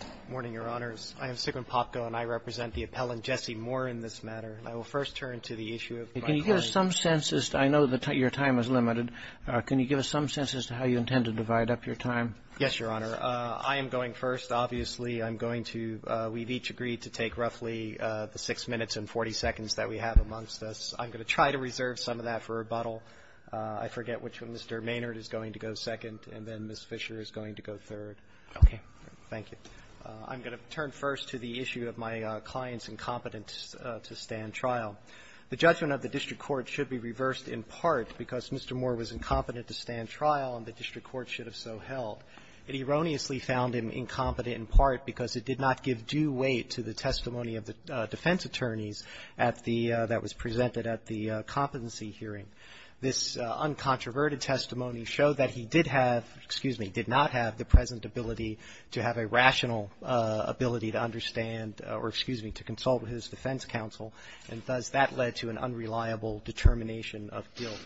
Good morning, Your Honors. I am Sigmund Popko, and I represent the appellant Jesse Moore in this matter. I will first turn to the issue of biparty. Can you give us some sense as to – I know your time is limited. Can you give us some sense as to how you intend to divide up your time? Yes, Your Honor. I am going first. Obviously, I'm going to – we've each agreed to take roughly the six minutes and 40 seconds that we have amongst us. I'm going to try to reserve some of that for rebuttal. I forget which one. Mr. Maynard is going to go second, and then Ms. Fisher is going to go third. Okay. Thank you. I'm going to turn first to the issue of my client's incompetence to stand trial. The judgment of the district court should be reversed in part because Mr. Moore was incompetent to stand trial, and the district court should have so held. It erroneously found him incompetent in part because it did not give due weight to the testimony of the defense attorneys at the – that was presented at the competency hearing. This uncontroverted testimony showed that he did have – excuse me – did not have the present ability to have a rational ability to understand – or excuse me – to consult with his defense counsel, and thus that led to an unreliable determination of guilt.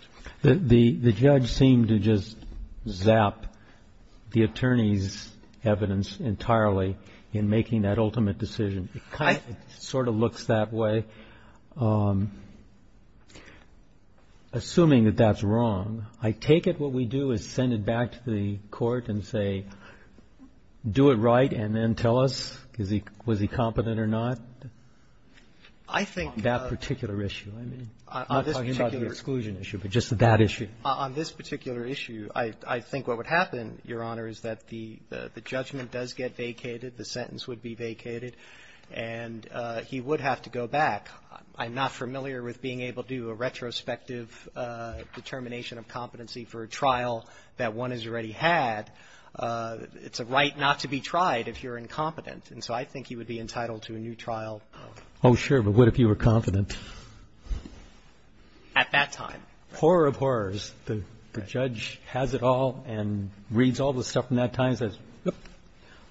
The judge seemed to just zap the attorney's evidence entirely in making that ultimate decision. It kind of – it sort of looks that way. Assuming that that's wrong, I take it what we do is send it back to the court and say, do it right, and then tell us, was he competent or not on that particular issue? I mean, I'm not talking about the exclusion issue, but just that issue. On this particular issue, I think what would happen, Your Honor, is that the judgment does get vacated, the sentence would be vacated, and he would have to go back. I'm not familiar with being able to do a retrospective determination of competency for a trial that one has already had. It's a right not to be tried if you're incompetent. And so I think he would be entitled to a new trial. Oh, sure, but what if you were confident? At that time. Horror of horrors. The judge has it all and reads all the stuff from that time and says,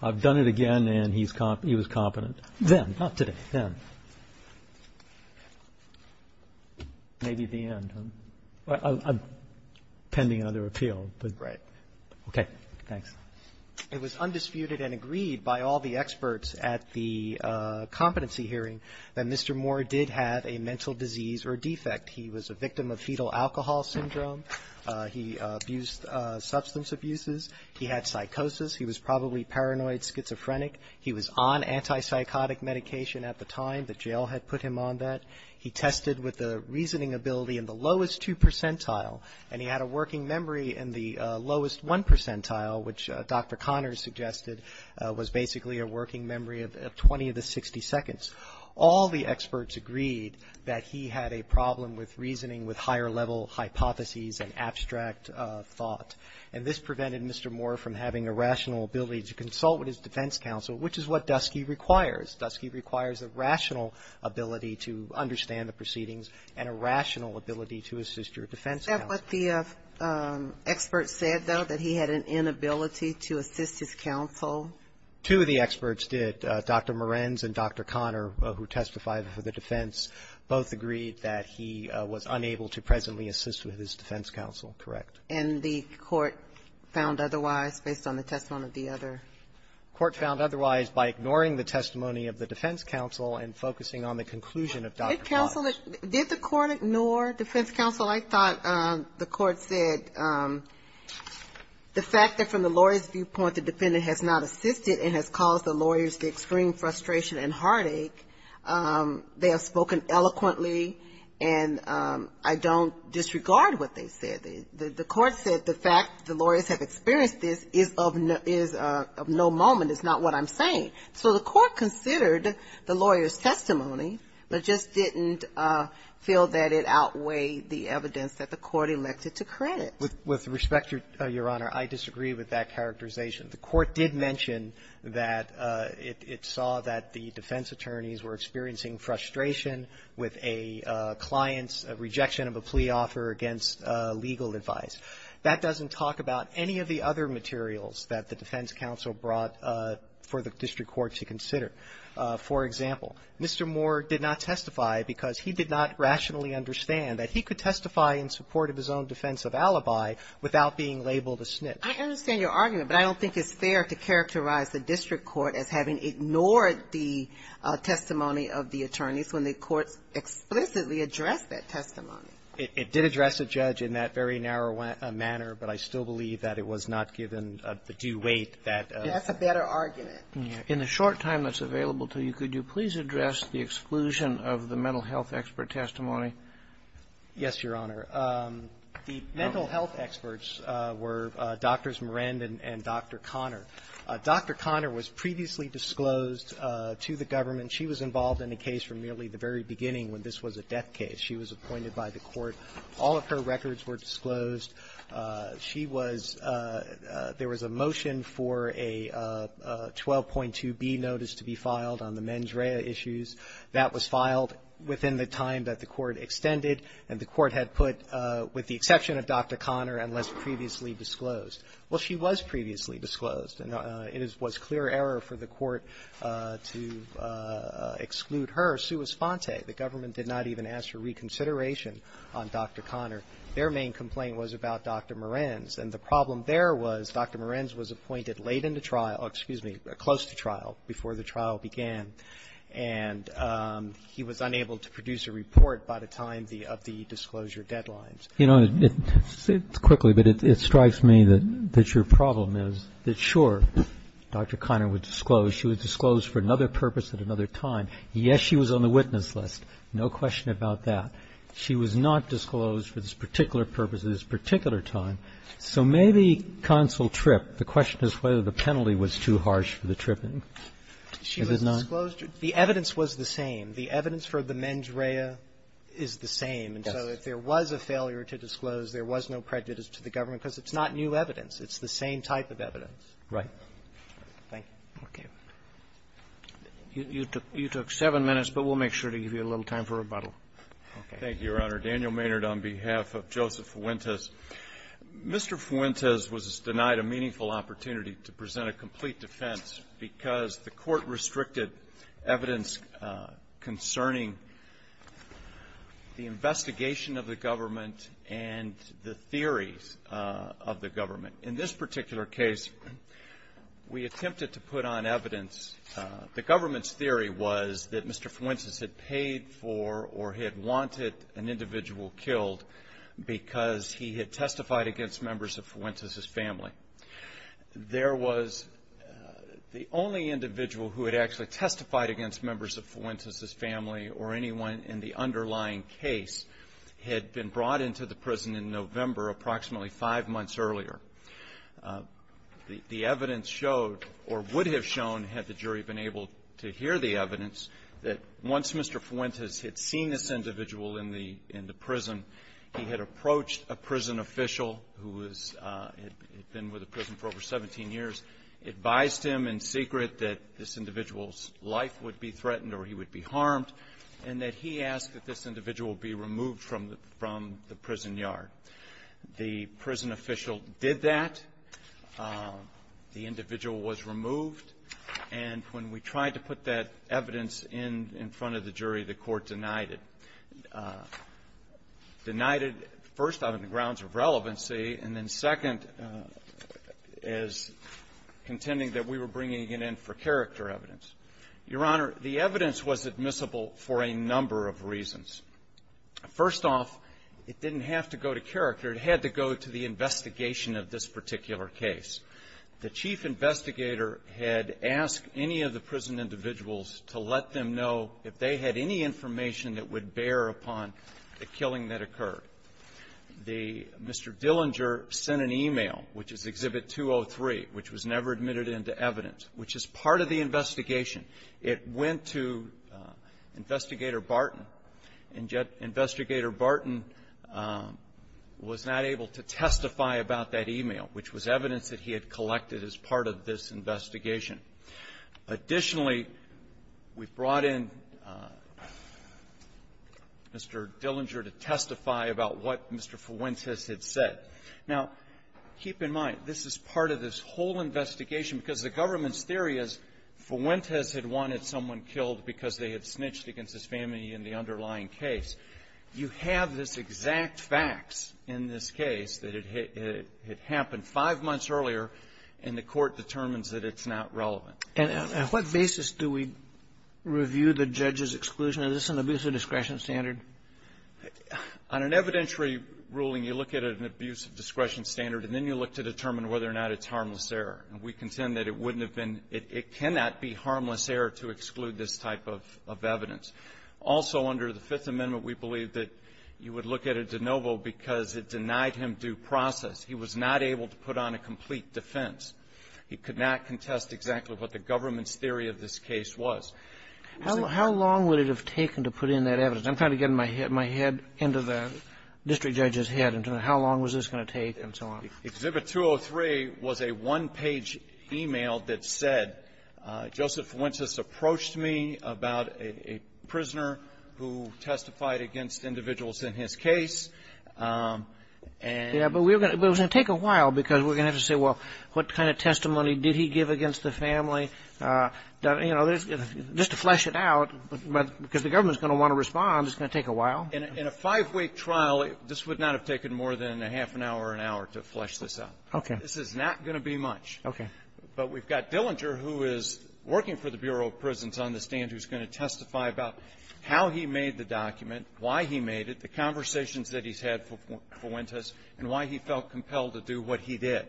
I've done it again, and he was competent. Then, not today, then. Maybe at the end. I'm pending another appeal. Right. Okay. Thanks. It was undisputed and agreed by all the experts at the competency hearing that Mr. Moore did have a mental disease or defect. He was a victim of fetal alcohol syndrome. He abused substance abuses. He had psychosis. He was probably paranoid schizophrenic. He was on antipsychotic medication at the time. The jail had put him on that. He tested with a reasoning ability in the lowest two percentile, and he had a working memory in the lowest one percentile, which Dr. Connors suggested was basically a working memory of 20 to 60 seconds. All the experts agreed that he had a problem with reasoning with higher-level hypotheses and abstract thought. And this prevented Mr. Moore from having a rational ability to consult with his defense counsel, which is what Dusky requires. Dusky requires a rational ability to understand the proceedings and a rational ability to assist your defense counsel. Is that what the experts said, though, that he had an inability to assist his counsel? Two of the experts did. Dr. Morens and Dr. Connor, who testified for the defense, both agreed that he was unable to presently assist with his defense counsel. Correct. And the Court found otherwise based on the testimony of the other? The Court found otherwise by ignoring the testimony of the defense counsel and focusing on the conclusion of Dr. Walsh. Counsel, did the Court ignore defense counsel? I thought the Court said the fact that from the lawyer's viewpoint, the defendant has not assisted and has caused the lawyers the extreme frustration and heartache. They have spoken eloquently, and I don't disregard what they said. The Court said the fact the lawyers have experienced this is of no moment, is not what I'm saying. So the Court considered the lawyer's testimony, but just didn't feel that it outweighed the evidence that the Court elected to credit. With respect, Your Honor, I disagree with that characterization. The Court did mention that it saw that the defense attorneys were experiencing frustration with a client's rejection of a plea offer against legal advice. That doesn't talk about any of the other materials that the defense counsel brought for the district court to consider. For example, Mr. Moore did not testify because he did not rationally understand that he could testify in support of his own defense of alibi without being labeled a snitch. I understand your argument, but I don't think it's fair to characterize the district court as having ignored the testimony of the attorneys when the courts explicitly addressed that testimony. It did address the judge in that very narrow manner, but I still believe that it was not given the due weight that a ---- That's a better argument. In the short time that's available to you, could you please address the exclusion of the mental health expert testimony? Yes, Your Honor. The mental health experts were Drs. Moran and Dr. Conner. Dr. Conner was previously disclosed to the government. She was involved in a case from nearly the very beginning when this was a death case. She was appointed by the court. All of her records were disclosed. She was ---- there was a motion for a 12.2b notice to be filed on the mens rea issues. That was filed within the time that the court extended, and the court had put, with the exception of Dr. Conner, unless previously disclosed. Well, she was previously disclosed. It was clear error for the court to exclude her sua sponte. The government did not even ask for reconsideration on Dr. Conner. Their main complaint was about Dr. Moran. And the problem there was Dr. Moran was appointed late into trial, excuse me, close to trial, before the trial began. And he was unable to produce a report by the time the ---- of the disclosure deadlines. You know, quickly, but it strikes me that your problem is that, sure, Dr. Conner was disclosed. She was disclosed for another purpose at another time. Yes, she was on the witness list. No question about that. She was not disclosed for this particular purpose at this particular time. So maybe counsel tripped. The question is whether the penalty was too harsh for the tripping. Is it not? She was disclosed. The evidence was the same. The evidence for the mens rea is the same. So if there was a failure to disclose, there was no prejudice to the government, because it's not new evidence. It's the same type of evidence. Right. Thank you. Okay. You took seven minutes, but we'll make sure to give you a little time for rebuttal. Okay. Thank you, Your Honor. Daniel Maynard on behalf of Joseph Fuentes. Mr. Fuentes was denied a meaningful opportunity to present a complete defense because the court restricted evidence concerning the investigation of the government and the theories of the government. In this particular case, we attempted to put on evidence. The government's theory was that Mr. Fuentes had paid for or had wanted an individual killed because he had testified against members of Fuentes's family. There was the only individual who had actually testified against members of Fuentes's family or anyone in the underlying case had been brought into the prison in November, approximately five months earlier. The evidence showed or would have shown, had the jury been able to hear the evidence, that once Mr. Fuentes had seen this individual in the prison, he had approached a prison official who had been with the prison for over 17 years, advised him in secret that this individual's life would be threatened or he would be harmed, and that he asked that this individual be removed from the prison yard. The prison official did that. The individual was removed. And when we tried to put that evidence in in front of the jury, the court denied it. Denied it, first, out of the grounds of relevancy, and then second, as contending that we were bringing it in for character evidence. Your Honor, the evidence was admissible for a number of reasons. First off, it didn't have to go to character. It had to go to the investigation of this particular case. The chief investigator had asked any of the prison individuals to let them know if they had any information that would bear upon the killing that occurred. The Mr. Dillinger sent an e-mail, which is Exhibit 203, which was never admitted into evidence, which is part of the investigation. It went to Investigator Barton, and yet Investigator Barton was not able to testify about that e-mail, which was evidence that he had collected as part of this investigation. Additionally, we brought in Mr. Dillinger to testify about what Mr. Fuentes had said. Now, keep in mind, this is part of this whole investigation because the government's theory is Fuentes had wanted someone killed because they had snitched against his family in the underlying case. You have this exact facts in this case that had happened five months earlier, and the Court determines that it's not relevant. And on what basis do we review the judge's exclusion? Is this an abuse of discretion standard? On an evidentiary ruling, you look at an abuse of discretion standard, and then you look to determine whether or not it's harmless error. And we contend that it wouldn't have been — it cannot be harmless error to exclude this type of evidence. Also, under the Fifth Amendment, we believe that you would look at a de novo because it denied him due process. He was not able to put on a complete defense. He could not contest exactly what the government's theory of this case was. How long would it have taken to put in that evidence? I'm trying to get my head into the district judge's head into how long was this going to take and so on. Exhibit 203 was a one-page e-mail that said, Joseph Fuentes approached me about a prisoner who testified against individuals in his case, and — Yeah. But we were going to — but it was going to take a while because we were going to have to say, well, what kind of testimony did he give against the family? You know, just to flesh it out, because the government's going to want to respond, it's going to take a while. In a five-week trial, this would not have taken more than a half an hour or an hour to flesh this out. Okay. This is not going to be much. Okay. But we've got Dillinger, who is working for the Bureau of Prisons on the stand, who's going to testify about how he made the document, why he made it, the conversations that he's had for Fuentes, and why he felt compelled to do what he did.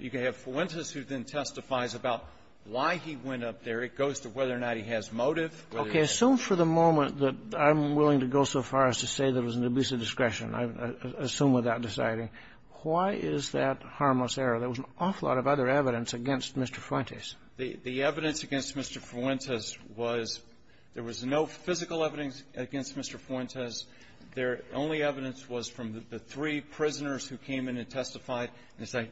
You can have Fuentes, who then testifies about why he went up there. It goes to whether or not he has motive, whether he's — Okay. Assume for the moment that I'm willing to go so far as to say that it was an abuse of discretion. I assume without deciding. Why is that harmless error? There was an awful lot of other evidence against Mr. Fuentes. The evidence against Mr. Fuentes was there was no physical evidence against Mr. Fuentes. Their only evidence was from the three prisoners who came in and testified. And as I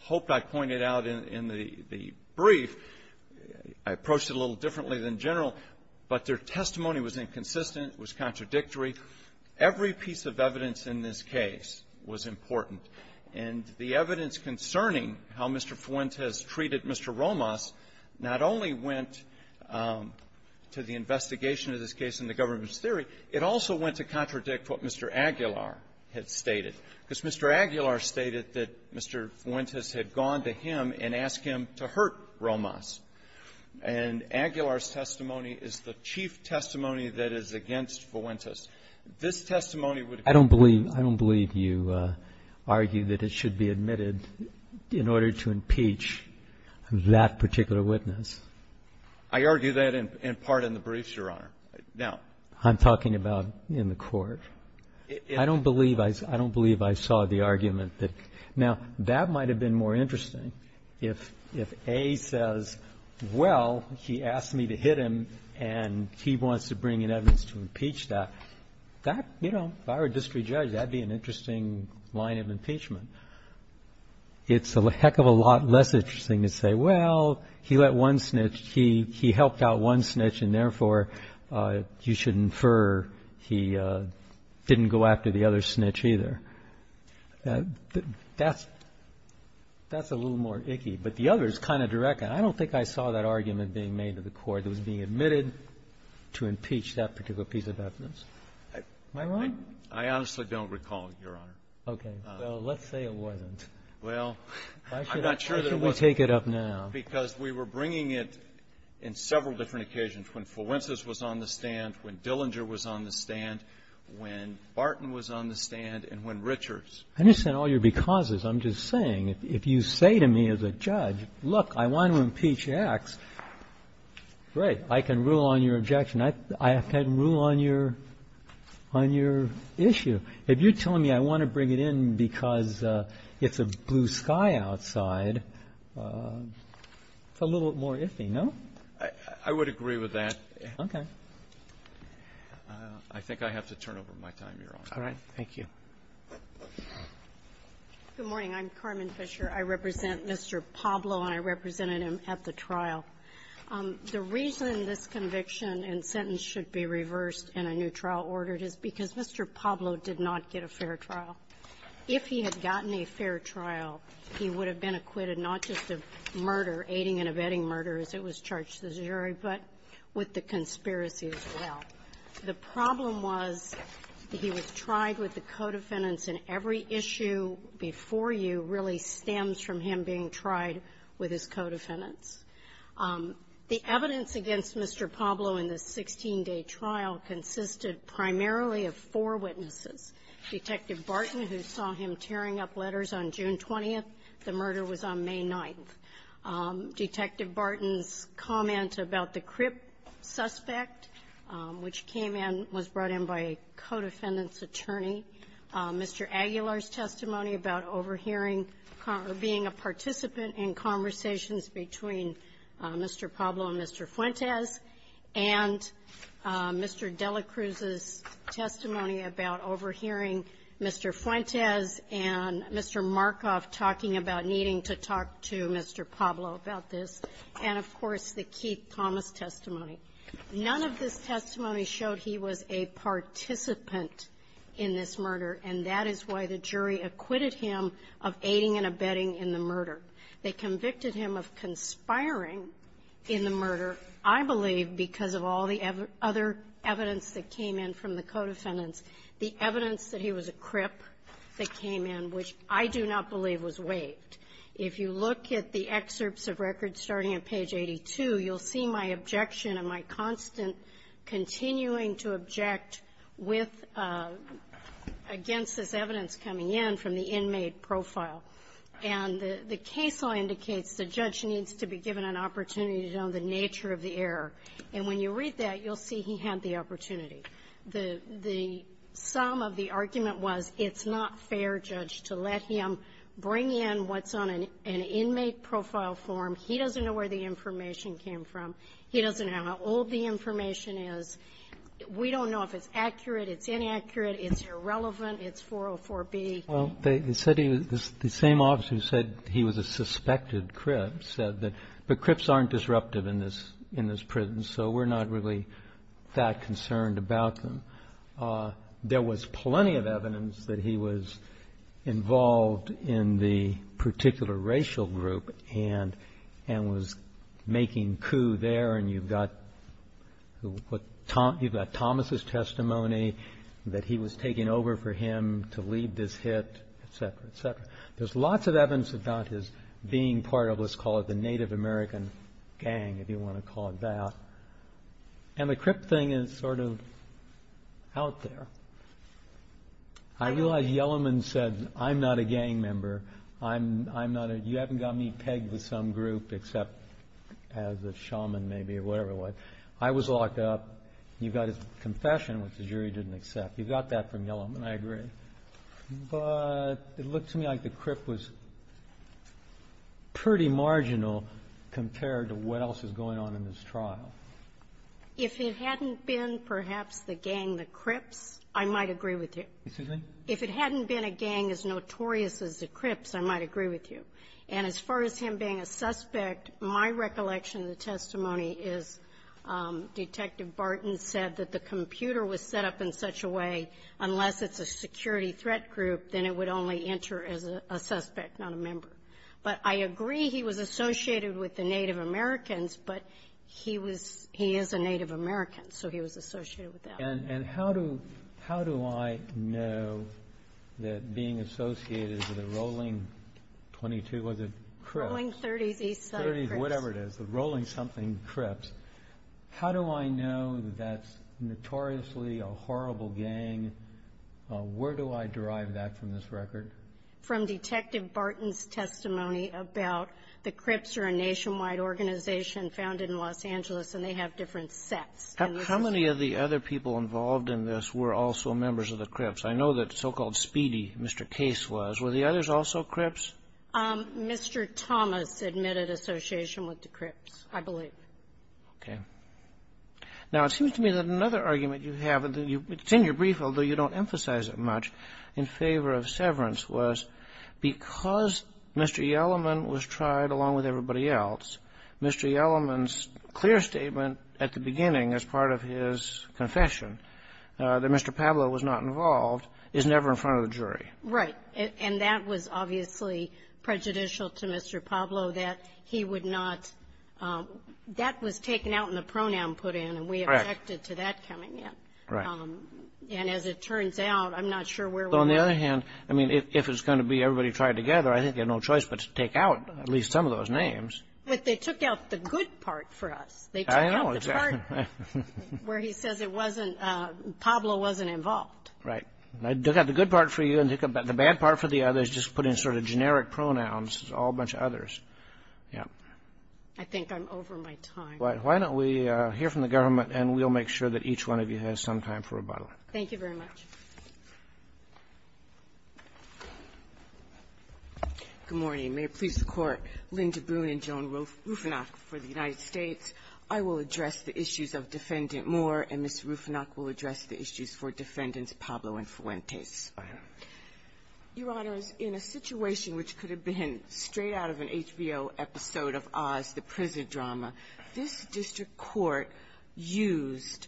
hope I pointed out in the brief, I approached it a little differently than general, but their testimony was inconsistent. It was contradictory. Every piece of evidence in this case was important. And the evidence concerning how Mr. Fuentes treated Mr. Romas not only went to the investigation of this case in the government's theory. It also went to contradict what Mr. Aguilar had stated. Because Mr. Aguilar stated that Mr. Fuentes had gone to him and asked him to hurt him, that his testimony is the chief testimony that is against Fuentes. This testimony would have been the chief testimony that Mr. Aguilar had said. I don't believe you argue that it should be admitted in order to impeach that particular witness. I argue that in part in the briefs, Your Honor. Now — I'm talking about in the court. I don't believe I saw the argument that — now, that might have been more interesting If A says, well, he asked me to hit him, and he wants to bring in evidence to impeach that, that, you know, if I were district judge, that would be an interesting line of impeachment. It's a heck of a lot less interesting to say, well, he let one snitch, he helped out one snitch, and therefore, you should infer he didn't go after the other snitch either. That's a little more icky. But the other is kind of direct. I don't think I saw that argument being made to the court that was being admitted to impeach that particular piece of evidence. Am I wrong? I honestly don't recall, Your Honor. Okay. Well, let's say it wasn't. Well, I'm not sure that it wasn't. Why should we take it up now? Because we were bringing it in several different occasions, when Fuentes was on the stand, when Barton was on the stand, and when Richards. I understand all your becauses. I'm just saying, if you say to me as a judge, look, I want to impeach X, great, I can rule on your objection. I can rule on your issue. If you're telling me I want to bring it in because it's a blue sky outside, it's a little more iffy, no? I would agree with that. Okay. I think I have to turn over my time, Your Honor. All right. Thank you. Good morning. I'm Carmen Fisher. I represent Mr. Pablo, and I represented him at the trial. The reason this conviction and sentence should be reversed and a new trial ordered is because Mr. Pablo did not get a fair trial. If he had gotten a fair trial, he would have been acquitted not just of murder, aiding and abetting murder, as it was charged to the jury, but with the conspiracy as well. The problem was that he was tried with the co-defendants, and every issue before you really stems from him being tried with his co-defendants. The evidence against Mr. Pablo in the 16-day trial consisted primarily of four witnesses. Detective Barton, who saw him tearing up letters on June 20th, the murder was on May 9th. Detective Barton's comment about the crip suspect, which came in, was brought in by a co-defendant's attorney. Mr. Aguilar's testimony about overhearing or being a participant in conversations between Mr. Pablo and Mr. Fuentes, and Mr. Delacruz's testimony about overhearing Mr. Fuentes and Mr. Markoff talking about needing to talk to Mr. Pablo about this, and, of course, the Keith Thomas testimony. None of this testimony showed he was a participant in this murder, and that is why the jury acquitted him of aiding and abetting in the murder. They convicted him of conspiring in the murder, I believe, because of all the other evidence that came in from the co-defendants, the evidence that he was a crip that came in, which I do not believe was waived. If you look at the excerpts of records starting at page 82, you'll see my objection and my constant continuing to object with or against this evidence coming in from the inmate profile. And the case law indicates the judge needs to be given an opportunity to know the opportunity. The sum of the argument was it's not fair, Judge, to let him bring in what's on an inmate profile form. He doesn't know where the information came from. He doesn't know how old the information is. We don't know if it's accurate, it's inaccurate, it's irrelevant, it's 404B. Well, they said he was the same officer who said he was a suspected crip said that the crips aren't disruptive in this prison, so we're not really that concerned about them. There was plenty of evidence that he was involved in the particular racial group and was making coup there, and you've got Thomas' testimony that he was taking over for him to lead this hit, et cetera, et cetera. There's lots of evidence about his being part of what's called the Native American gang, if you want to call it that. And the crip thing is sort of out there. I realize Yellowman said, I'm not a gang member. You haven't got me pegged to some group except as a shaman, maybe, or whatever it was. I was locked up. You've got his confession, which the jury didn't accept. You got that from Yellowman, I agree. But it looked to me like the crip was pretty marginal compared to what else was going on in this trial. If it hadn't been, perhaps, the gang, the crips, I might agree with you. Excuse me? If it hadn't been a gang as notorious as the crips, I might agree with you. And as far as him being a suspect, my recollection of the testimony is Detective Barton said that the computer was set up in such a way, unless it's a security threat group, then it would only enter as a suspect, not a member. But I agree he was associated with the Native Americans, but he was he is a Native American, so he was associated with that. And how do how do I know that being associated with a rolling 22, was it crips? Rolling 30s, East Side Crips. Rolling 30s, whatever it is, the Rolling Something Crips. How do I know that's notoriously a horrible gang? Where do I derive that from this record? From Detective Barton's testimony about the Crips are a nationwide organization founded in Los Angeles, and they have different sets. How many of the other people involved in this were also members of the Crips? I know that so-called Speedy, Mr. Case, was. Were the others also Crips? Mr. Thomas admitted association with the Crips, I believe. Okay. Now, it seems to me that another argument you have, and it's in your brief, although you don't emphasize it much, in favor of severance was because Mr. Yellaman was tried along with everybody else, Mr. Yellaman's clear statement at the beginning as part of his confession that Mr. Pablo was not involved is never in front of the jury. Right. And that was obviously prejudicial to Mr. Pablo, that he would not, that was taken out and the pronoun put in, and we objected to that coming in. And as it turns out, I'm not sure where we are. But on the other hand, I mean, if it's going to be everybody tried together, I think you have no choice but to take out at least some of those names. But they took out the good part for us. They took out the part where he says it wasn't, Pablo wasn't involved. Right. They took out the good part for you, and they took out the bad part for the others. Just put in sort of generic pronouns, all a bunch of others. Yeah. I think I'm over my time. Why don't we hear from the government, and we'll make sure that each one of you has some time for rebuttal. Thank you very much. Good morning. May it please the Court, Linda Boone and Joan Rufinock for the United States. I will address the issues of Defendant Moore, and Ms. Rufinock will address the issues for Defendants Pablo and Fuentes. Your Honors, in a situation which could have been straight out of an HBO episode of Oz, the prison drama, this district court used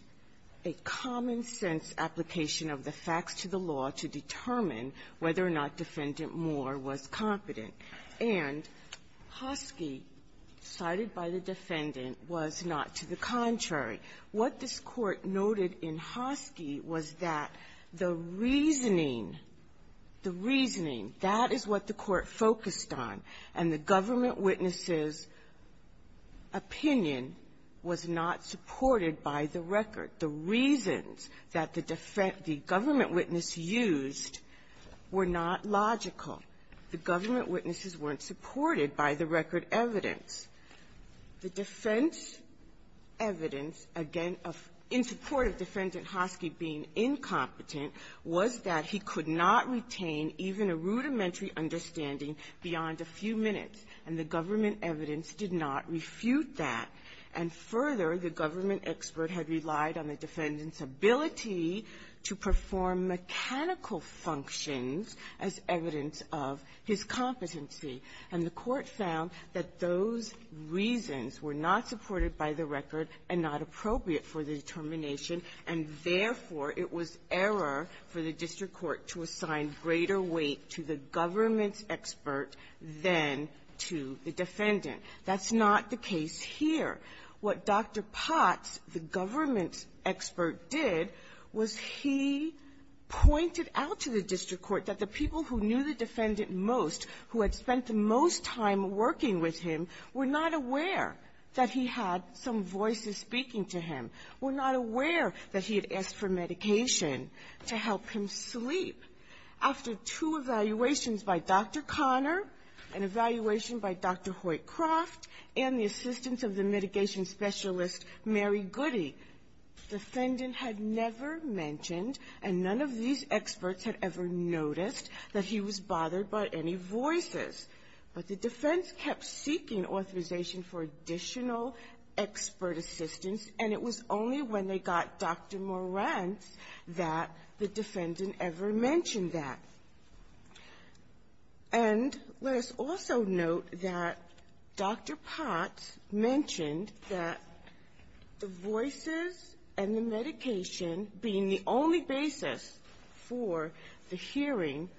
a common-sense application of the facts to the law to determine whether or not Defendant Moore was competent. And Hoski, cited by the defendant, was not to the contrary. What this Court noted in Hoski was that the reasoning, the reasoning, that is what the Court focused on, and the government witness's opinion was not supported by the record. The reasons that the government witness used were not logical. The government witnesses weren't supported by the record evidence. The defense evidence, again, in support of Defendant Hoski being incompetent, was that he could not retain even a rudimentary understanding beyond a few minutes, and the government evidence did not refute that. And further, the government expert had relied on the defendant's ability to perform mechanical functions as evidence of his competency. And the Court found that those reasons were not supported by the record and not appropriate for the determination, and therefore, it was error for the district court to assign greater weight to the government's expert than to the defendant. That's not the case here. What Dr. Potts, the government expert, did was he pointed out to the district court that the people who knew the defendant most, who had spent the most time working with him, were not aware that he had some voices speaking to him, were not aware that he had asked for medication to help him sleep. After two evaluations by Dr. Conner, an evaluation by Dr. Hoyt-Croft, and the assistance of the mitigation specialist, Mary Goody, the defendant had never mentioned and none of these experts had ever noticed that he was bothered by any voices. But the defense kept seeking authorization for additional expert assistance, and it was only when they got Dr. Morantz that the defendant ever mentioned that. And let us also note that Dr. Potts mentioned that the voices and the medication being the only basis for the hearing,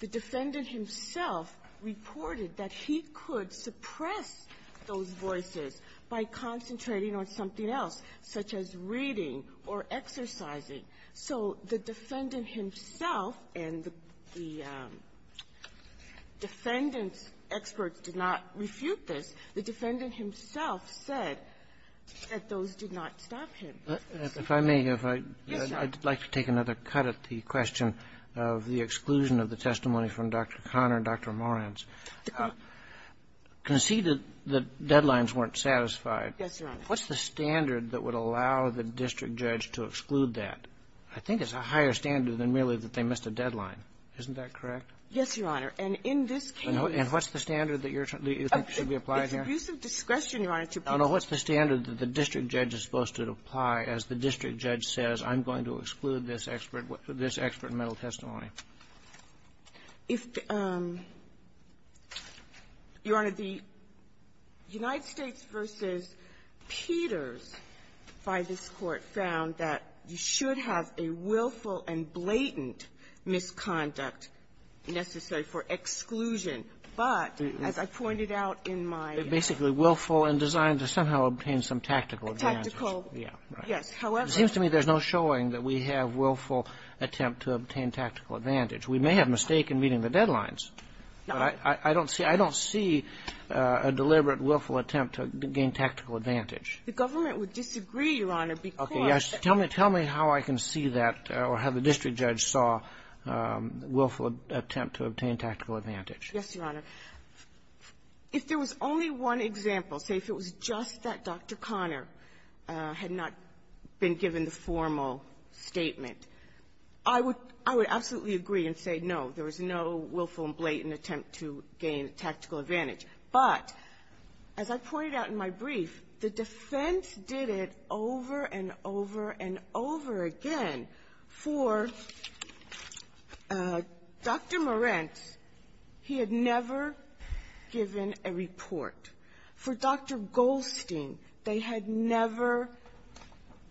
the defendant himself reported that he could suppress those voices by concentrating on something else, such as reading or exercising. So the defendant himself and the defendant's experts did not refute this. The defendant himself said that those did not stop him. If I may, if I can take another cut at the question of the exclusion of the testimony from Dr. Conner and Dr. Morantz. Conceded that deadlines weren't satisfied. Yes, Your Honor. What's the standard that would allow the district judge to exclude that? I think it's a higher standard than merely that they missed a deadline. Isn't that correct? Yes, Your Honor. And in this case what's the standard that should be applied here? It's abuse of discretion, Your Honor. No, no. What's the standard that the district judge is supposed to apply as the district judge says, I'm going to exclude this expert, this expert mental testimony? If, Your Honor, the United States v. Peters, by this Court, found that you should have a willful and blatant misconduct necessary for exclusion. But, as I pointed out in my --- It's basically willful and designed to somehow obtain some tactical advantages. Tactical, yes. However- It seems to me there's no showing that we have willful attempt to obtain tactical advantage. We may have mistaken meeting the deadlines. I don't see a deliberate willful attempt to gain tactical advantage. The government would disagree, Your Honor, because- Okay. Yes. Tell me how I can see that or how the district judge saw willful attempt to obtain tactical advantage. Yes, Your Honor. If there was only one example, say if it was just that Dr. Conner had not been given the formal statement, I would absolutely agree and say, no, there was no willful and blatant attempt to gain tactical advantage. But, as I pointed out in my brief, the defense did it over and over and over again For Dr. Moretz, he had never given a report. For Dr. Goldstein, they had never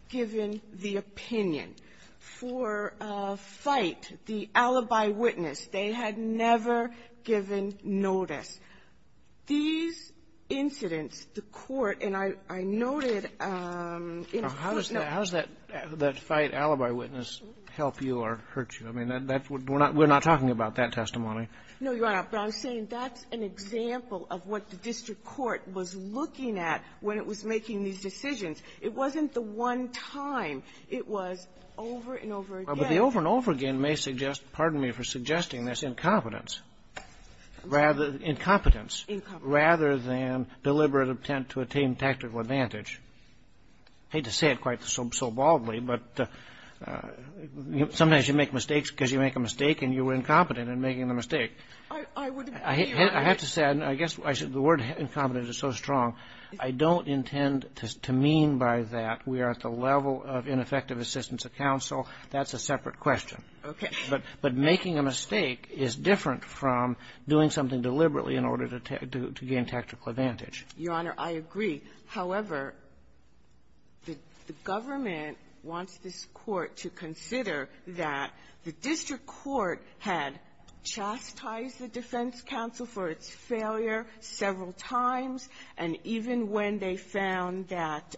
given the opinion. For Fite, the alibi witness, they had never given notice. These incidents, the Court, and I noted in- How does that Fite alibi witness help you or hurt you? I mean, we're not talking about that testimony. No, Your Honor. But I'm saying that's an example of what the district court was looking at when it was making these decisions. It wasn't the one time. It was over and over again. But the over and over again may suggest, pardon me for suggesting this, incompetence. Incompetence. Incompetence. Rather than deliberate attempt to obtain tactical advantage. I hate to say it quite so baldly, but sometimes you make mistakes because you make a mistake and you were incompetent in making the mistake. I would agree with that. I have to say, and I guess the word incompetence is so strong, I don't intend to mean by that we are at the level of ineffective assistance of counsel. That's a separate question. Okay. But making a mistake is different from doing something deliberately in order to gain tactical advantage. Your Honor, I agree. However, the government wants this Court to consider that the district court had chastised the defense counsel for its failure several times, and even when they found that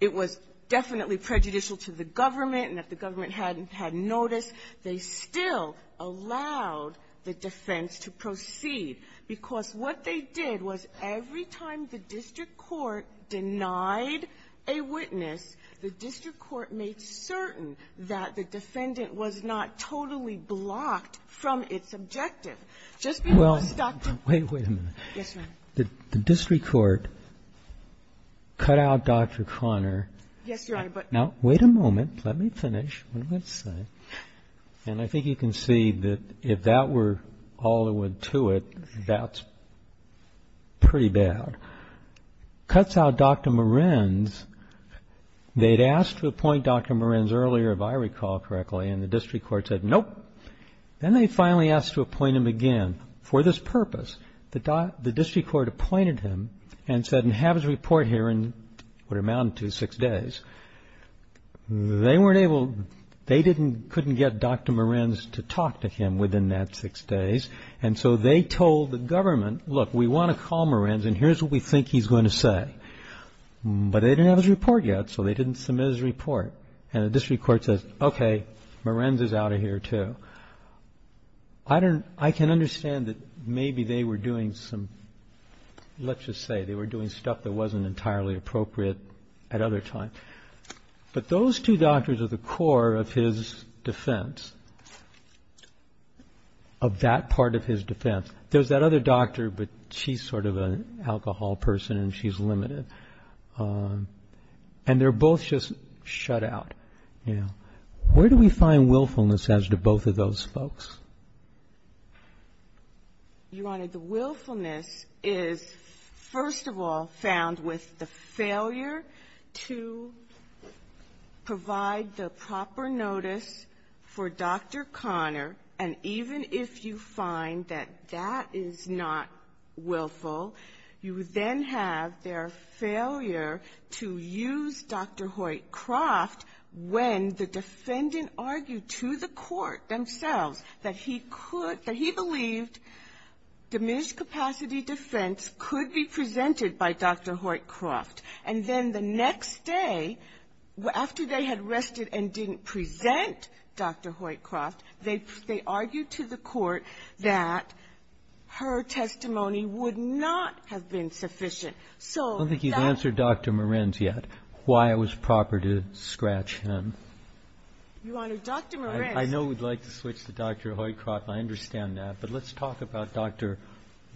it was definitely prejudicial to the government and that the government hadn't had notice, they still allowed the defense to proceed. Because what they did was every time the district court denied a witness, the district court made certain that the defendant was not totally blocked from its objective. Just because, Dr. Koenig ---- Well, wait a minute. Yes, Your Honor. Did the district court cut out Dr. Conner? Yes, Your Honor, but ---- Now, wait a moment. Let me finish. What did I say? And I think you can see that if that were all that went to it, that's pretty bad. Cuts out Dr. Morins. They'd asked to appoint Dr. Morins earlier, if I recall correctly, and the district court said, nope. Then they finally asked to appoint him again for this purpose. The district court appointed him and said, and have his report here in what amounted to six days. They weren't able, they couldn't get Dr. Morins to talk to him within that six days, and so they told the government, look, we want to call Morins and here's what we think he's going to say. But they didn't have his report yet, so they didn't submit his report, and the district court says, okay, Morins is out of here too. I can understand that maybe they were doing some, let's just say they were doing stuff that wasn't entirely appropriate at other times. But those two doctors are the core of his defense, of that part of his defense. There's that other doctor, but she's sort of an alcohol person and she's limited. And they're both just shut out, you know. Where do we find willfulness as to both of those folks? You Honor, the willfulness is, first of all, found with the failure to provide the proper notice for Dr. Connor, and even if you find that that is not willful, you then have their failure to use Dr. Hoyt Croft when the defendant argued to the court that he could, that he believed diminished capacity defense could be presented by Dr. Hoyt Croft. And then the next day, after they had rested and didn't present Dr. Hoyt Croft, they argued to the court that her testimony would not have been sufficient. So that's why I was proper to scratch him. You Honor, Dr. Morenz ---- I know we'd like to switch to Dr. Hoyt Croft, and I understand that. But let's talk about, Dr.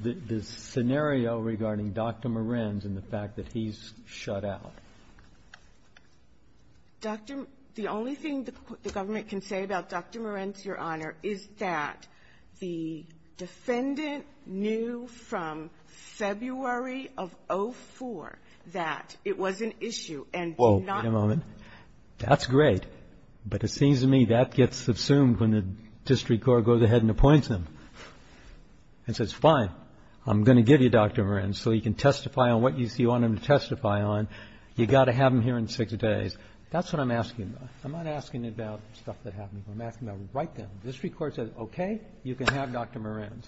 ---- the scenario regarding Dr. Morenz and the fact that he's shut out. Dr. Morenz, the only thing the government can say about Dr. Morenz, Your Honor, is that the defendant knew from February of 2004 that it was an issue and did not ---- Wait a moment. That's great. But it seems to me that gets assumed when the district court goes ahead and appoints him and says, fine, I'm going to give you Dr. Morenz so he can testify on what you see you want him to testify on. You've got to have him here in six days. That's what I'm asking about. I'm not asking about stuff that happened before. I'm asking about right then. The district court says, okay, you can have Dr. Morenz.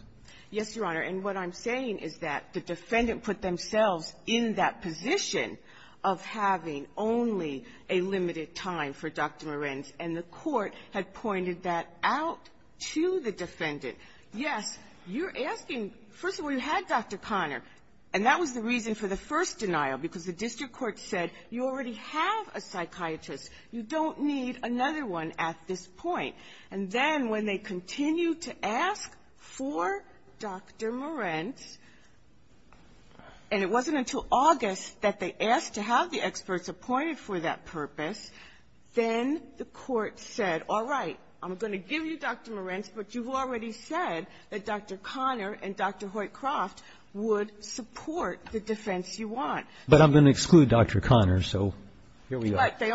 Yes, Your Honor. And what I'm saying is that the defendant put themselves in that position of having only a limited time for Dr. Morenz, and the court had pointed that out to the defendant. Yes, you're asking, first of all, you had Dr. Connor, and that was the reason for the first denial, because the district court said, you already have a psychiatrist. You don't need another one at this point. And then when they continued to ask for Dr. Morenz, and it wasn't until August that they asked to have the experts appointed for that purpose, then the court said, all right, I'm going to give you Dr. Morenz, but you've already said that Dr. Connor and Dr. Hoyt Croft would support the defense you want. But I'm going to exclude Dr. Connor, so here we are. Right. The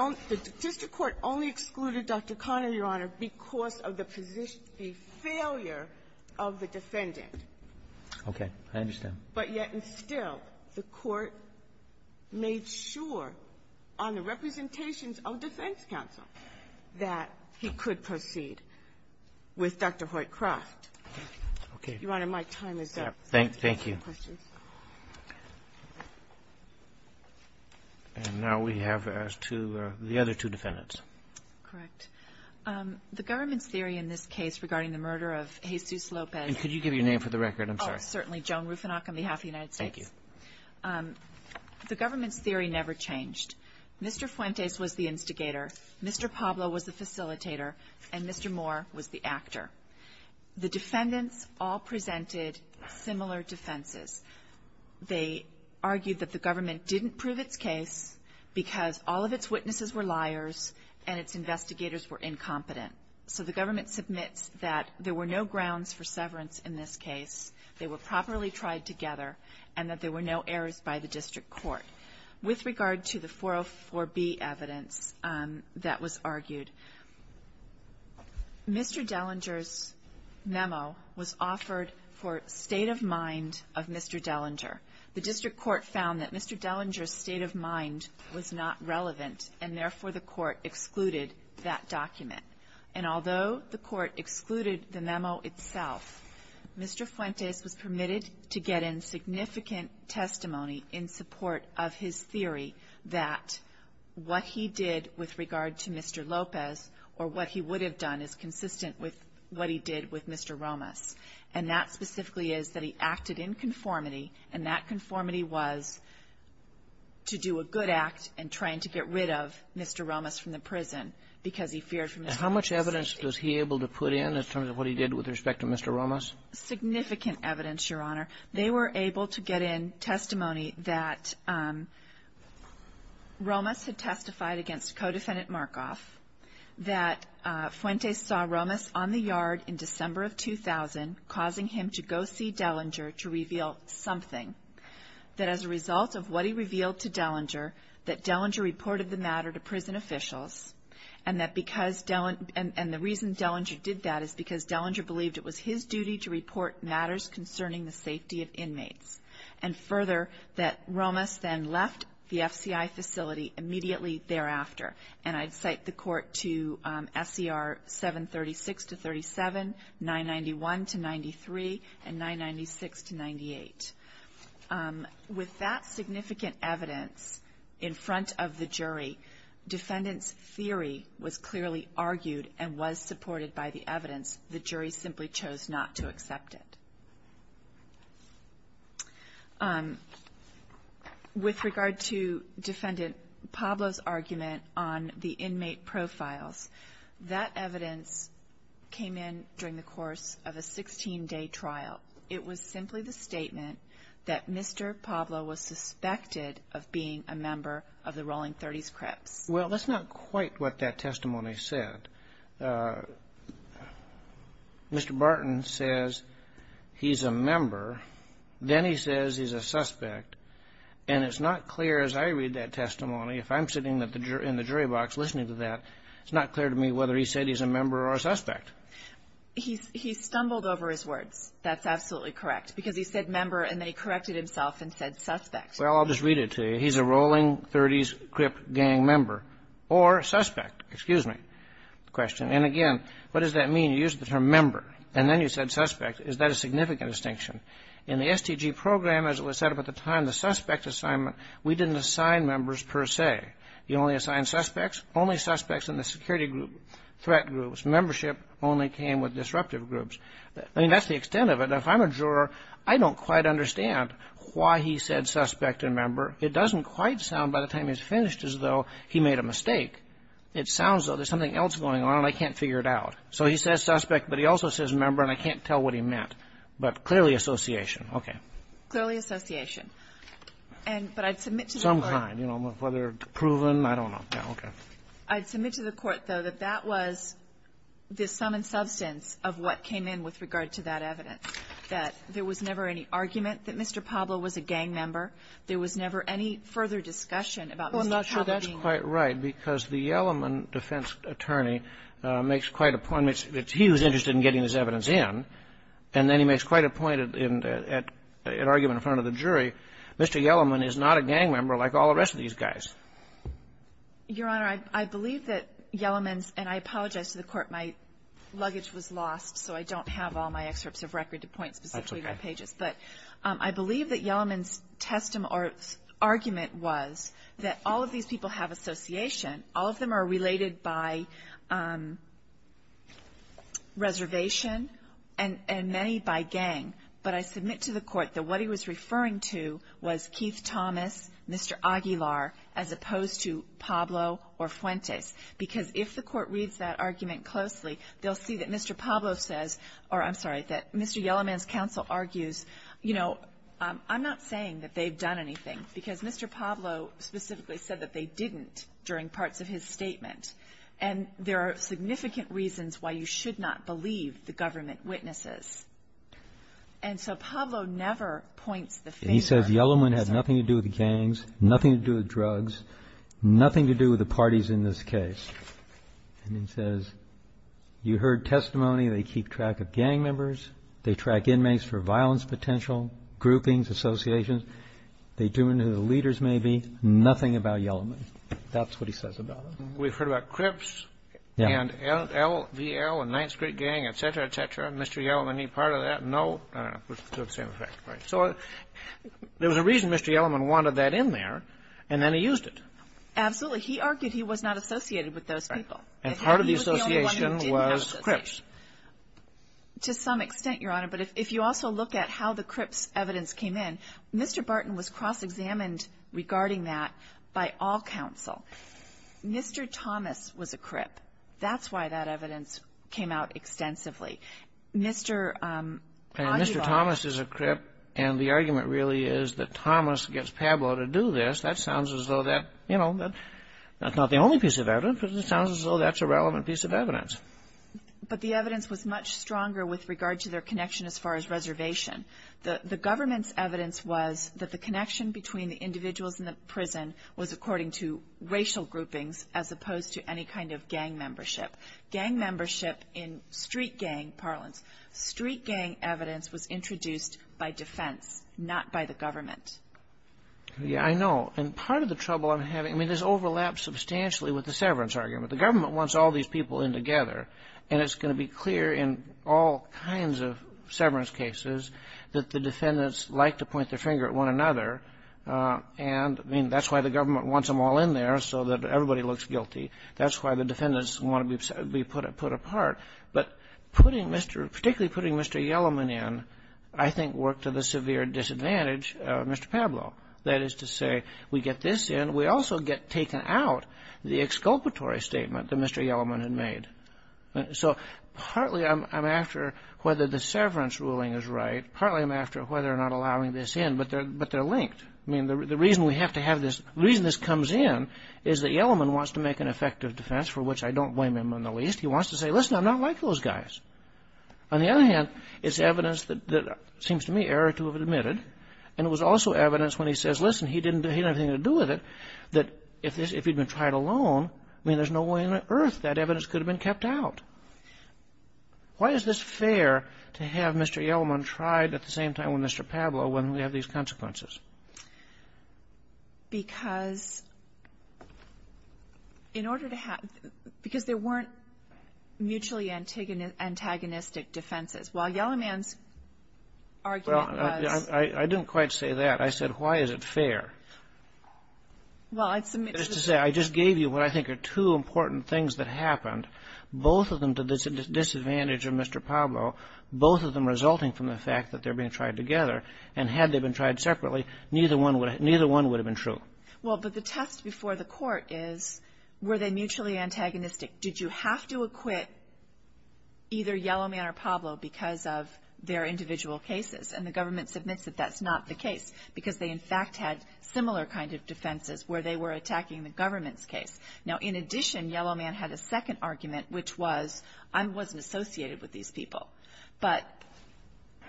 district court only excluded Dr. Connor, Your Honor, because of the position of the failure of the defendant. Okay. I understand. But yet and still, the court made sure on the representations of defense counsel that he could proceed with Dr. Hoyt Croft. Okay. Your Honor, my time is up. Thank you. Thank you for your questions. And now we have asked the other two defendants. Correct. The government's theory in this case regarding the murder of Jesus Lopez And could you give your name for the record? I'm sorry. Certainly, Joan Rufinock on behalf of the United States. Thank you. The government's theory never changed. Mr. Fuentes was the instigator, Mr. Pablo was the facilitator, and Mr. Moore was the actor. The defendants all presented similar defenses. They argued that the government didn't prove its case because all of its witnesses were liars and its investigators were incompetent. So the government submits that there were no grounds for severance in this case. They were properly tried together and that there were no errors by the district court. With regard to the 404B evidence that was argued, Mr. Dellinger's memo was offered for state of mind of Mr. Dellinger. The district court found that Mr. Dellinger's state of mind was not relevant and therefore the court excluded that document. And although the court excluded the memo itself, Mr. Fuentes was permitted to get in significant testimony in support of his theory that what he did with regard to Mr. Lopez or what he would have done is consistent with what he did with Mr. Romas. And that specifically is that he acted in conformity and that conformity was to do a good act in trying to get rid of Mr. Romas from the prison because he feared from the state of mind. How much evidence was he able to put in in terms of what he did with respect to Mr. Romas? Significant evidence, Your Honor. They were able to get in testimony that Romas had testified against co-defendant Markoff, that Fuentes saw Romas on the yard in December of 2000 causing him to go see Dellinger to reveal something, that as a result of what he revealed to Dellinger, that Dellinger reported the matter to prison officials and that because Dellinger and the reason Dellinger did that is because Dellinger believed it was his duty to report matters concerning the safety of inmates. And further, that Romas then left the FCI facility immediately thereafter. And I'd cite the court to SCR 736 to 37, 991 to 93, and 996 to 98. With that significant evidence in front of the jury, defendant's theory was clearly argued and was supported by the evidence. The jury simply chose not to accept it. With regard to defendant Pablo's argument on the inmate profiles, that evidence came in during the course of a 16-day trial. It was simply the statement that Mr. Pablo was suspected of being a member of the Rolling 30s Crips. Well, that's not quite what that testimony said. Mr. Barton says he's a member, then he says he's a suspect, and it's not clear as I read that testimony, if I'm sitting in the jury box listening to that, it's not clear to me whether he said he's a member or a suspect. He stumbled over his words. That's absolutely correct, because he said member and then he corrected himself and said suspect. Well, I'll just read it to you. He's a Rolling 30s Crip gang member or suspect, excuse me. Question. And again, what does that mean? You use the term member and then you said suspect. Is that a significant distinction? In the STG program, as it was set up at the time, the suspect assignment, we didn't assign members per se. You only assign suspects, only suspects in the security group, threat groups. Membership only came with disruptive groups. I mean, that's the extent of it. Now, if I'm a juror, I don't quite understand why he said suspect and member. It doesn't quite sound by the time he's finished as though he made a mistake. It sounds as though there's something else going on and I can't figure it out. So he says suspect, but he also says member, and I can't tell what he meant. But clearly association. Okay. Clearly association. And, but I'd submit to the court. Some kind, you know, whether proven. I don't know. Yeah. Okay. I'd submit to the court, though, that that was the sum and substance of what came in with regard to that evidence, that there was never any argument that Mr. Pablo was a gang member. There was never any further discussion about Mr. Pablo being a gang member. You're quite right, because the Yellaman defense attorney makes quite a point. It's he who's interested in getting this evidence in, and then he makes quite a point at argument in front of the jury. Mr. Yellaman is not a gang member like all the rest of these guys. Your Honor, I believe that Yellaman's, and I apologize to the court. My luggage was lost, so I don't have all my excerpts of record to point specifically to my pages. But I believe that Yellaman's testimony or argument was that all of these people have association. All of them are related by reservation, and many by gang. But I submit to the court that what he was referring to was Keith Thomas, Mr. Aguilar, as opposed to Pablo or Fuentes, because if the court reads that argument closely, they'll see that Mr. Pablo says or, I'm sorry, that Mr. Yellaman's counsel argues, you know, I'm not saying that they've done anything, because Mr. Pablo specifically said that they didn't during parts of his statement. And there are significant reasons why you should not believe the government witnesses. And so Pablo never points the finger. And he says Yellaman had nothing to do with the gangs, nothing to do with drugs, nothing to do with the parties in this case. And he says, you heard testimony, they keep track of gang members, they track inmates for violence potential, groupings, associations, they tune into the leaders maybe, nothing about Yellaman, that's what he says about it. We've heard about Crips and LVL and Ninth Street Gang, et cetera, et cetera. Mr. Yellaman, any part of that? No, to the same effect, right. So there was a reason Mr. Yellaman wanted that in there, and then he used it. Absolutely. He argued he was not associated with those people. And part of the association was Crips. To some extent, Your Honor, but if you also look at how the Crips evidence came in, Mr. Barton was cross-examined regarding that by all counsel. Mr. Thomas was a Crip. That's why that evidence came out extensively. Mr. Aguilar. And Mr. Thomas is a Crip, and the argument really is that Thomas gets Pablo to do this. That sounds as though that, you know, that's not the only piece of evidence, but it sounds as though that's a relevant piece of evidence. But the evidence was much stronger with regard to their connection as far as reservation. The government's evidence was that the connection between the individuals in the prison was according to racial groupings as opposed to any kind of gang membership. Gang membership in street gang parlance. Street gang evidence was introduced by defense, not by the government. Yeah, I know. And part of the trouble I'm having, I mean, this overlaps substantially with the severance argument. The government wants all these people in together, and it's going to be clear in all kinds of severance cases that the defendants like to point their finger at one another. And, I mean, that's why the government wants them all in there so that everybody looks guilty. That's why the defendants want to be put apart. But putting Mr. — particularly putting Mr. Yellowman in, I think, worked to the severe disadvantage of Mr. Pablo. That is to say, we get this in. We also get taken out the exculpatory statement that Mr. Yellowman had made. So partly I'm after whether the severance ruling is right. Partly I'm after whether or not allowing this in. But they're linked. I mean, the reason we have to have this — the reason this comes in is that Yellowman wants to make an effective defense, for which I don't blame him in the least. He wants to say, listen, I'm not like those guys. On the other hand, it's evidence that seems to me error to have admitted. And it was also evidence when he says, listen, he didn't have anything to do with it, that evidence could have been kept out. Why is this fair to have Mr. Yellowman tried at the same time as Mr. Pablo when we have these consequences? Because in order to have — because there weren't mutually antagonistic defenses. While Yellowman's argument was — Well, I didn't quite say that. Well, I'd submit to the — That is to say, I just gave you what I think are two important things that happened. Both of them to the disadvantage of Mr. Pablo. Both of them resulting from the fact that they're being tried together. And had they been tried separately, neither one would have been true. Well, but the test before the Court is, were they mutually antagonistic? Did you have to acquit either Yellowman or Pablo because of their individual cases? And the government submits that that's not the case because they, in fact, had similar kind of defenses where they were attacking the government's case. Now, in addition, Yellowman had a second argument, which was, I wasn't associated with these people. But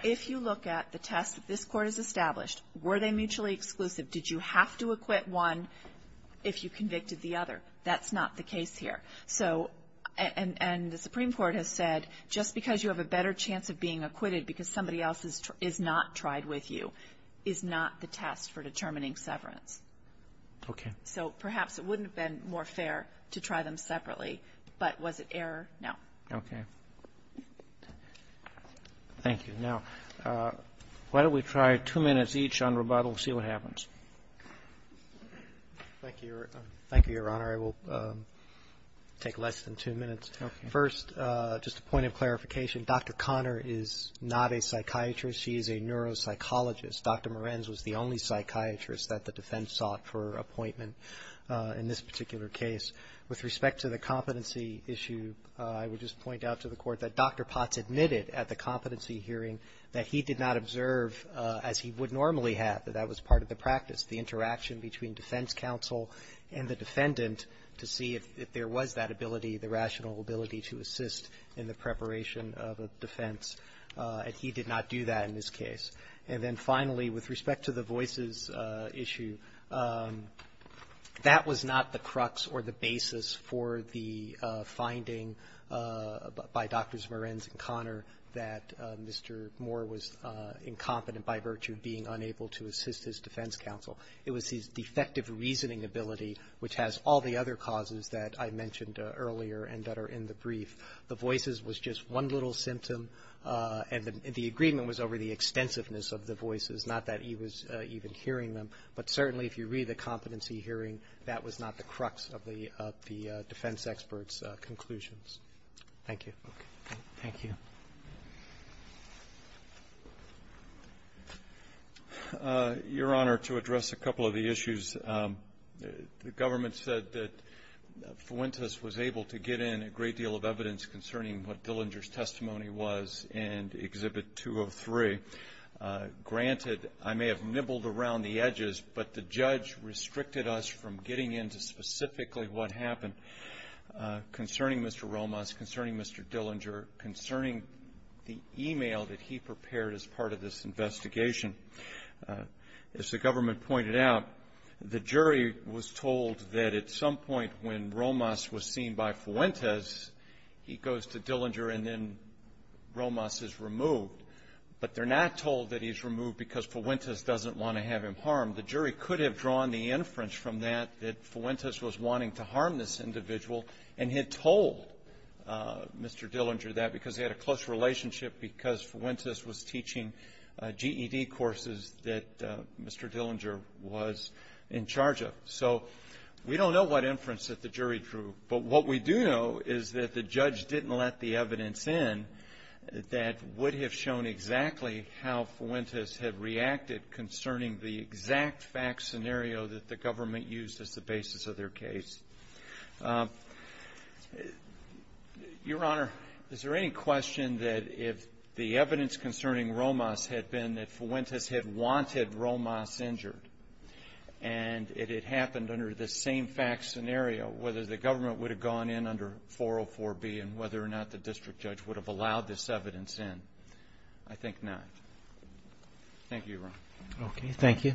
if you look at the test that this Court has established, were they mutually exclusive? Did you have to acquit one if you convicted the other? That's not the case here. So — and the Supreme Court has said, just because you have a better chance of being acquitted because somebody else is not tried with you is not the test for determining severance. Okay. So perhaps it wouldn't have been more fair to try them separately. But was it error? No. Okay. Thank you. Now, why don't we try two minutes each on rebuttal, see what happens. Thank you, Your Honor. I will take less than two minutes. Okay. First, just a point of clarification. Dr. Conner is not a psychiatrist. She is a neuropsychologist. Dr. Morens was the only psychiatrist that the defense sought for appointment in this particular case. With respect to the competency issue, I would just point out to the Court that Dr. Potts admitted at the competency hearing that he did not observe, as he would normally have, that that was part of the practice, the interaction between defense counsel and the defendant to see if there was that ability, the rational ability to assist in the preparation of a defense. And he did not do that in this case. And then finally, with respect to the Voices issue, that was not the crux or the basis for the finding by Drs. Morens and Conner that Mr. More was incompetent by virtue of being unable to assist his defense counsel. It was his defective reasoning ability, which has all the other causes that I mentioned earlier and that are in the brief. The Voices was just one little symptom, and the agreement was over the extensiveness of the Voices, not that he was even hearing them. But certainly, if you read the competency hearing, that was not the crux of the defense expert's conclusions. Thank you. Thank you. Your Honor, to address a couple of the issues, the government said that Fuentes was able to get in a great deal of evidence concerning what Dillinger's testimony was in Exhibit 203. Granted, I may have nibbled around the edges, but the judge restricted us from getting into specifically what happened concerning Mr. Romas, concerning Mr. Dillinger, concerning the email that he prepared as part of this investigation. As the government pointed out, the jury was told that at some point when Romas was seen by Fuentes, he goes to Dillinger and then Romas is removed. But they're not told that he's removed because Fuentes doesn't want to have him harmed. The jury could have drawn the inference from that that Fuentes was wanting to harm this individual and had told Mr. Dillinger that because they had a close relationship, because Fuentes was teaching GED courses that Mr. Dillinger was in charge of. So we don't know what inference that the jury drew. But what we do know is that the judge didn't let the evidence in that would have shown exactly how Fuentes had reacted concerning the exact fact scenario that the government used as the basis of their case. Your Honor, is there any question that if the evidence concerning Romas had been that Fuentes had wanted Romas injured and it had happened under the same fact scenario, whether the government would have gone in under 404B and whether or not the district judge would have allowed this evidence in? I think not. Thank you, Your Honor. Okay, thank you.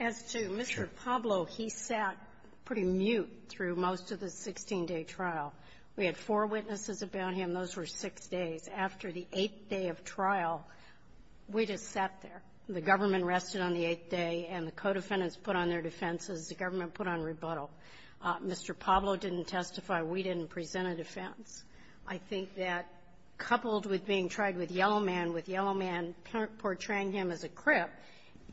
As to Mr. Pablo, he sat pretty mute through most of the 16-day trial. We had four witnesses about him. Those were six days. After the eighth day of trial, we just sat there. The government rested on the eighth day, and the co-defendants put on their defenses. The government put on rebuttal. Mr. Pablo didn't testify. We didn't present a defense. I think that, coupled with being tried with Yellowman, with Yellowman portraying him as a crip,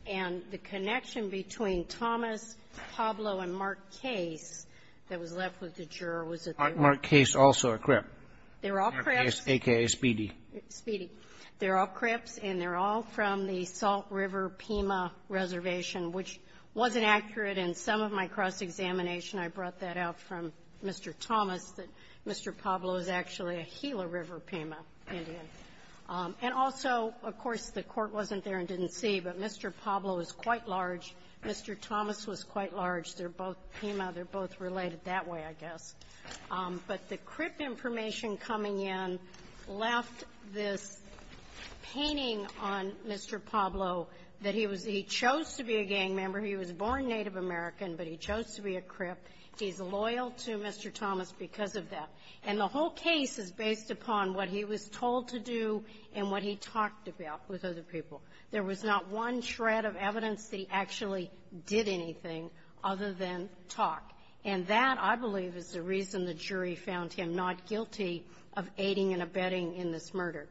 and the connection between Thomas, Pablo, and Mark Case that was left with the juror was that they were all crips. Mark Case also a crip. They were all crips. A.K.A. Speedy. Speedy. They were all crips, and they were all from the Salt River Pima Reservation, which wasn't accurate in some of my cross-examination. I brought that out from Mr. Thomas, that Mr. Pablo is actually a Gila River Pima Indian. And also, of course, the Court wasn't there and didn't see, but Mr. Pablo is quite large. Mr. Thomas was quite large. They're both Pima. They're both related that way, I guess. But the crip information coming in left this painting on Mr. Pablo that he was he chose to be a gang member. He was born Native American, but he chose to be a crip. He's loyal to Mr. Thomas because of that. And the whole case is based upon what he was told to do and what he talked about with other people. There was not one shred of evidence that he actually did anything other than talk. And that, I believe, is the reason the jury found him not guilty of aiding and abetting in this murder.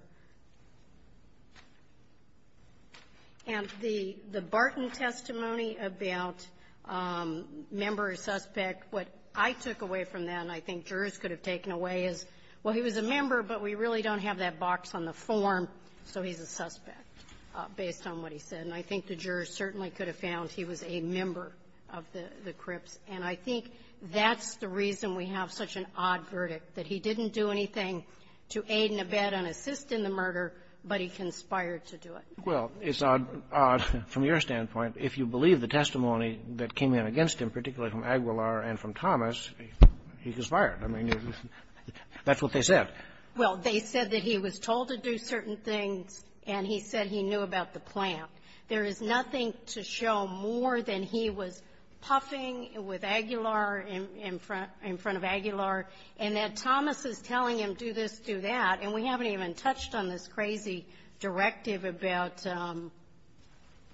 And the Barton testimony about member or suspect, what I took away from that, and I think jurors could have taken away, is, well, he was a member, but we really don't have that box on the form, so he's a suspect, based on what he said. And I think the jurors certainly could have found he was a member of the crips. And I think that's the reason we have such an odd verdict, that he didn't do anything to aid and abet and assist in the murder, but he conspired to do it. Well, it's odd from your standpoint. If you believe the testimony that came in against him, particularly from Aguilar and from Thomas, he conspired. I mean, that's what they said. Well, they said that he was told to do certain things, and he said he knew about the plant. There is nothing to show more than he was puffing with Aguilar in front of Aguilar, and that Thomas is telling him, do this, do that, and we haven't even figured out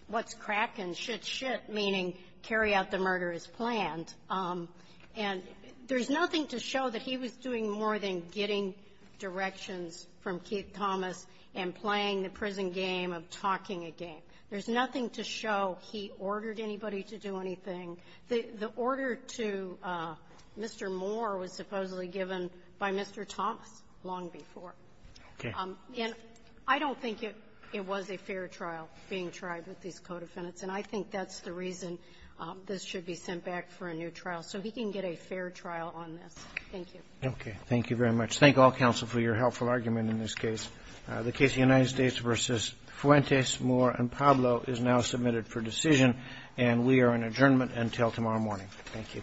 what's cracking, shit, shit, meaning carry out the murder as planned. And there's nothing to show that he was doing more than getting directions from Keith Thomas and playing the prison game of talking a game. There's nothing to show he ordered anybody to do anything. The order to Mr. Moore was supposedly given by Mr. Thomas long before. Okay. And I don't think it was a fair trial being tried with these co-defendants, and I think that's the reason this should be sent back for a new trial, so he can get a fair trial on this. Thank you. Okay. Thank you very much. Thank all counsel for your helpful argument in this case. The case of the United States v. Fuentes, Moore, and Pablo is now submitted for decision, and we are in adjournment until tomorrow morning. Thank you.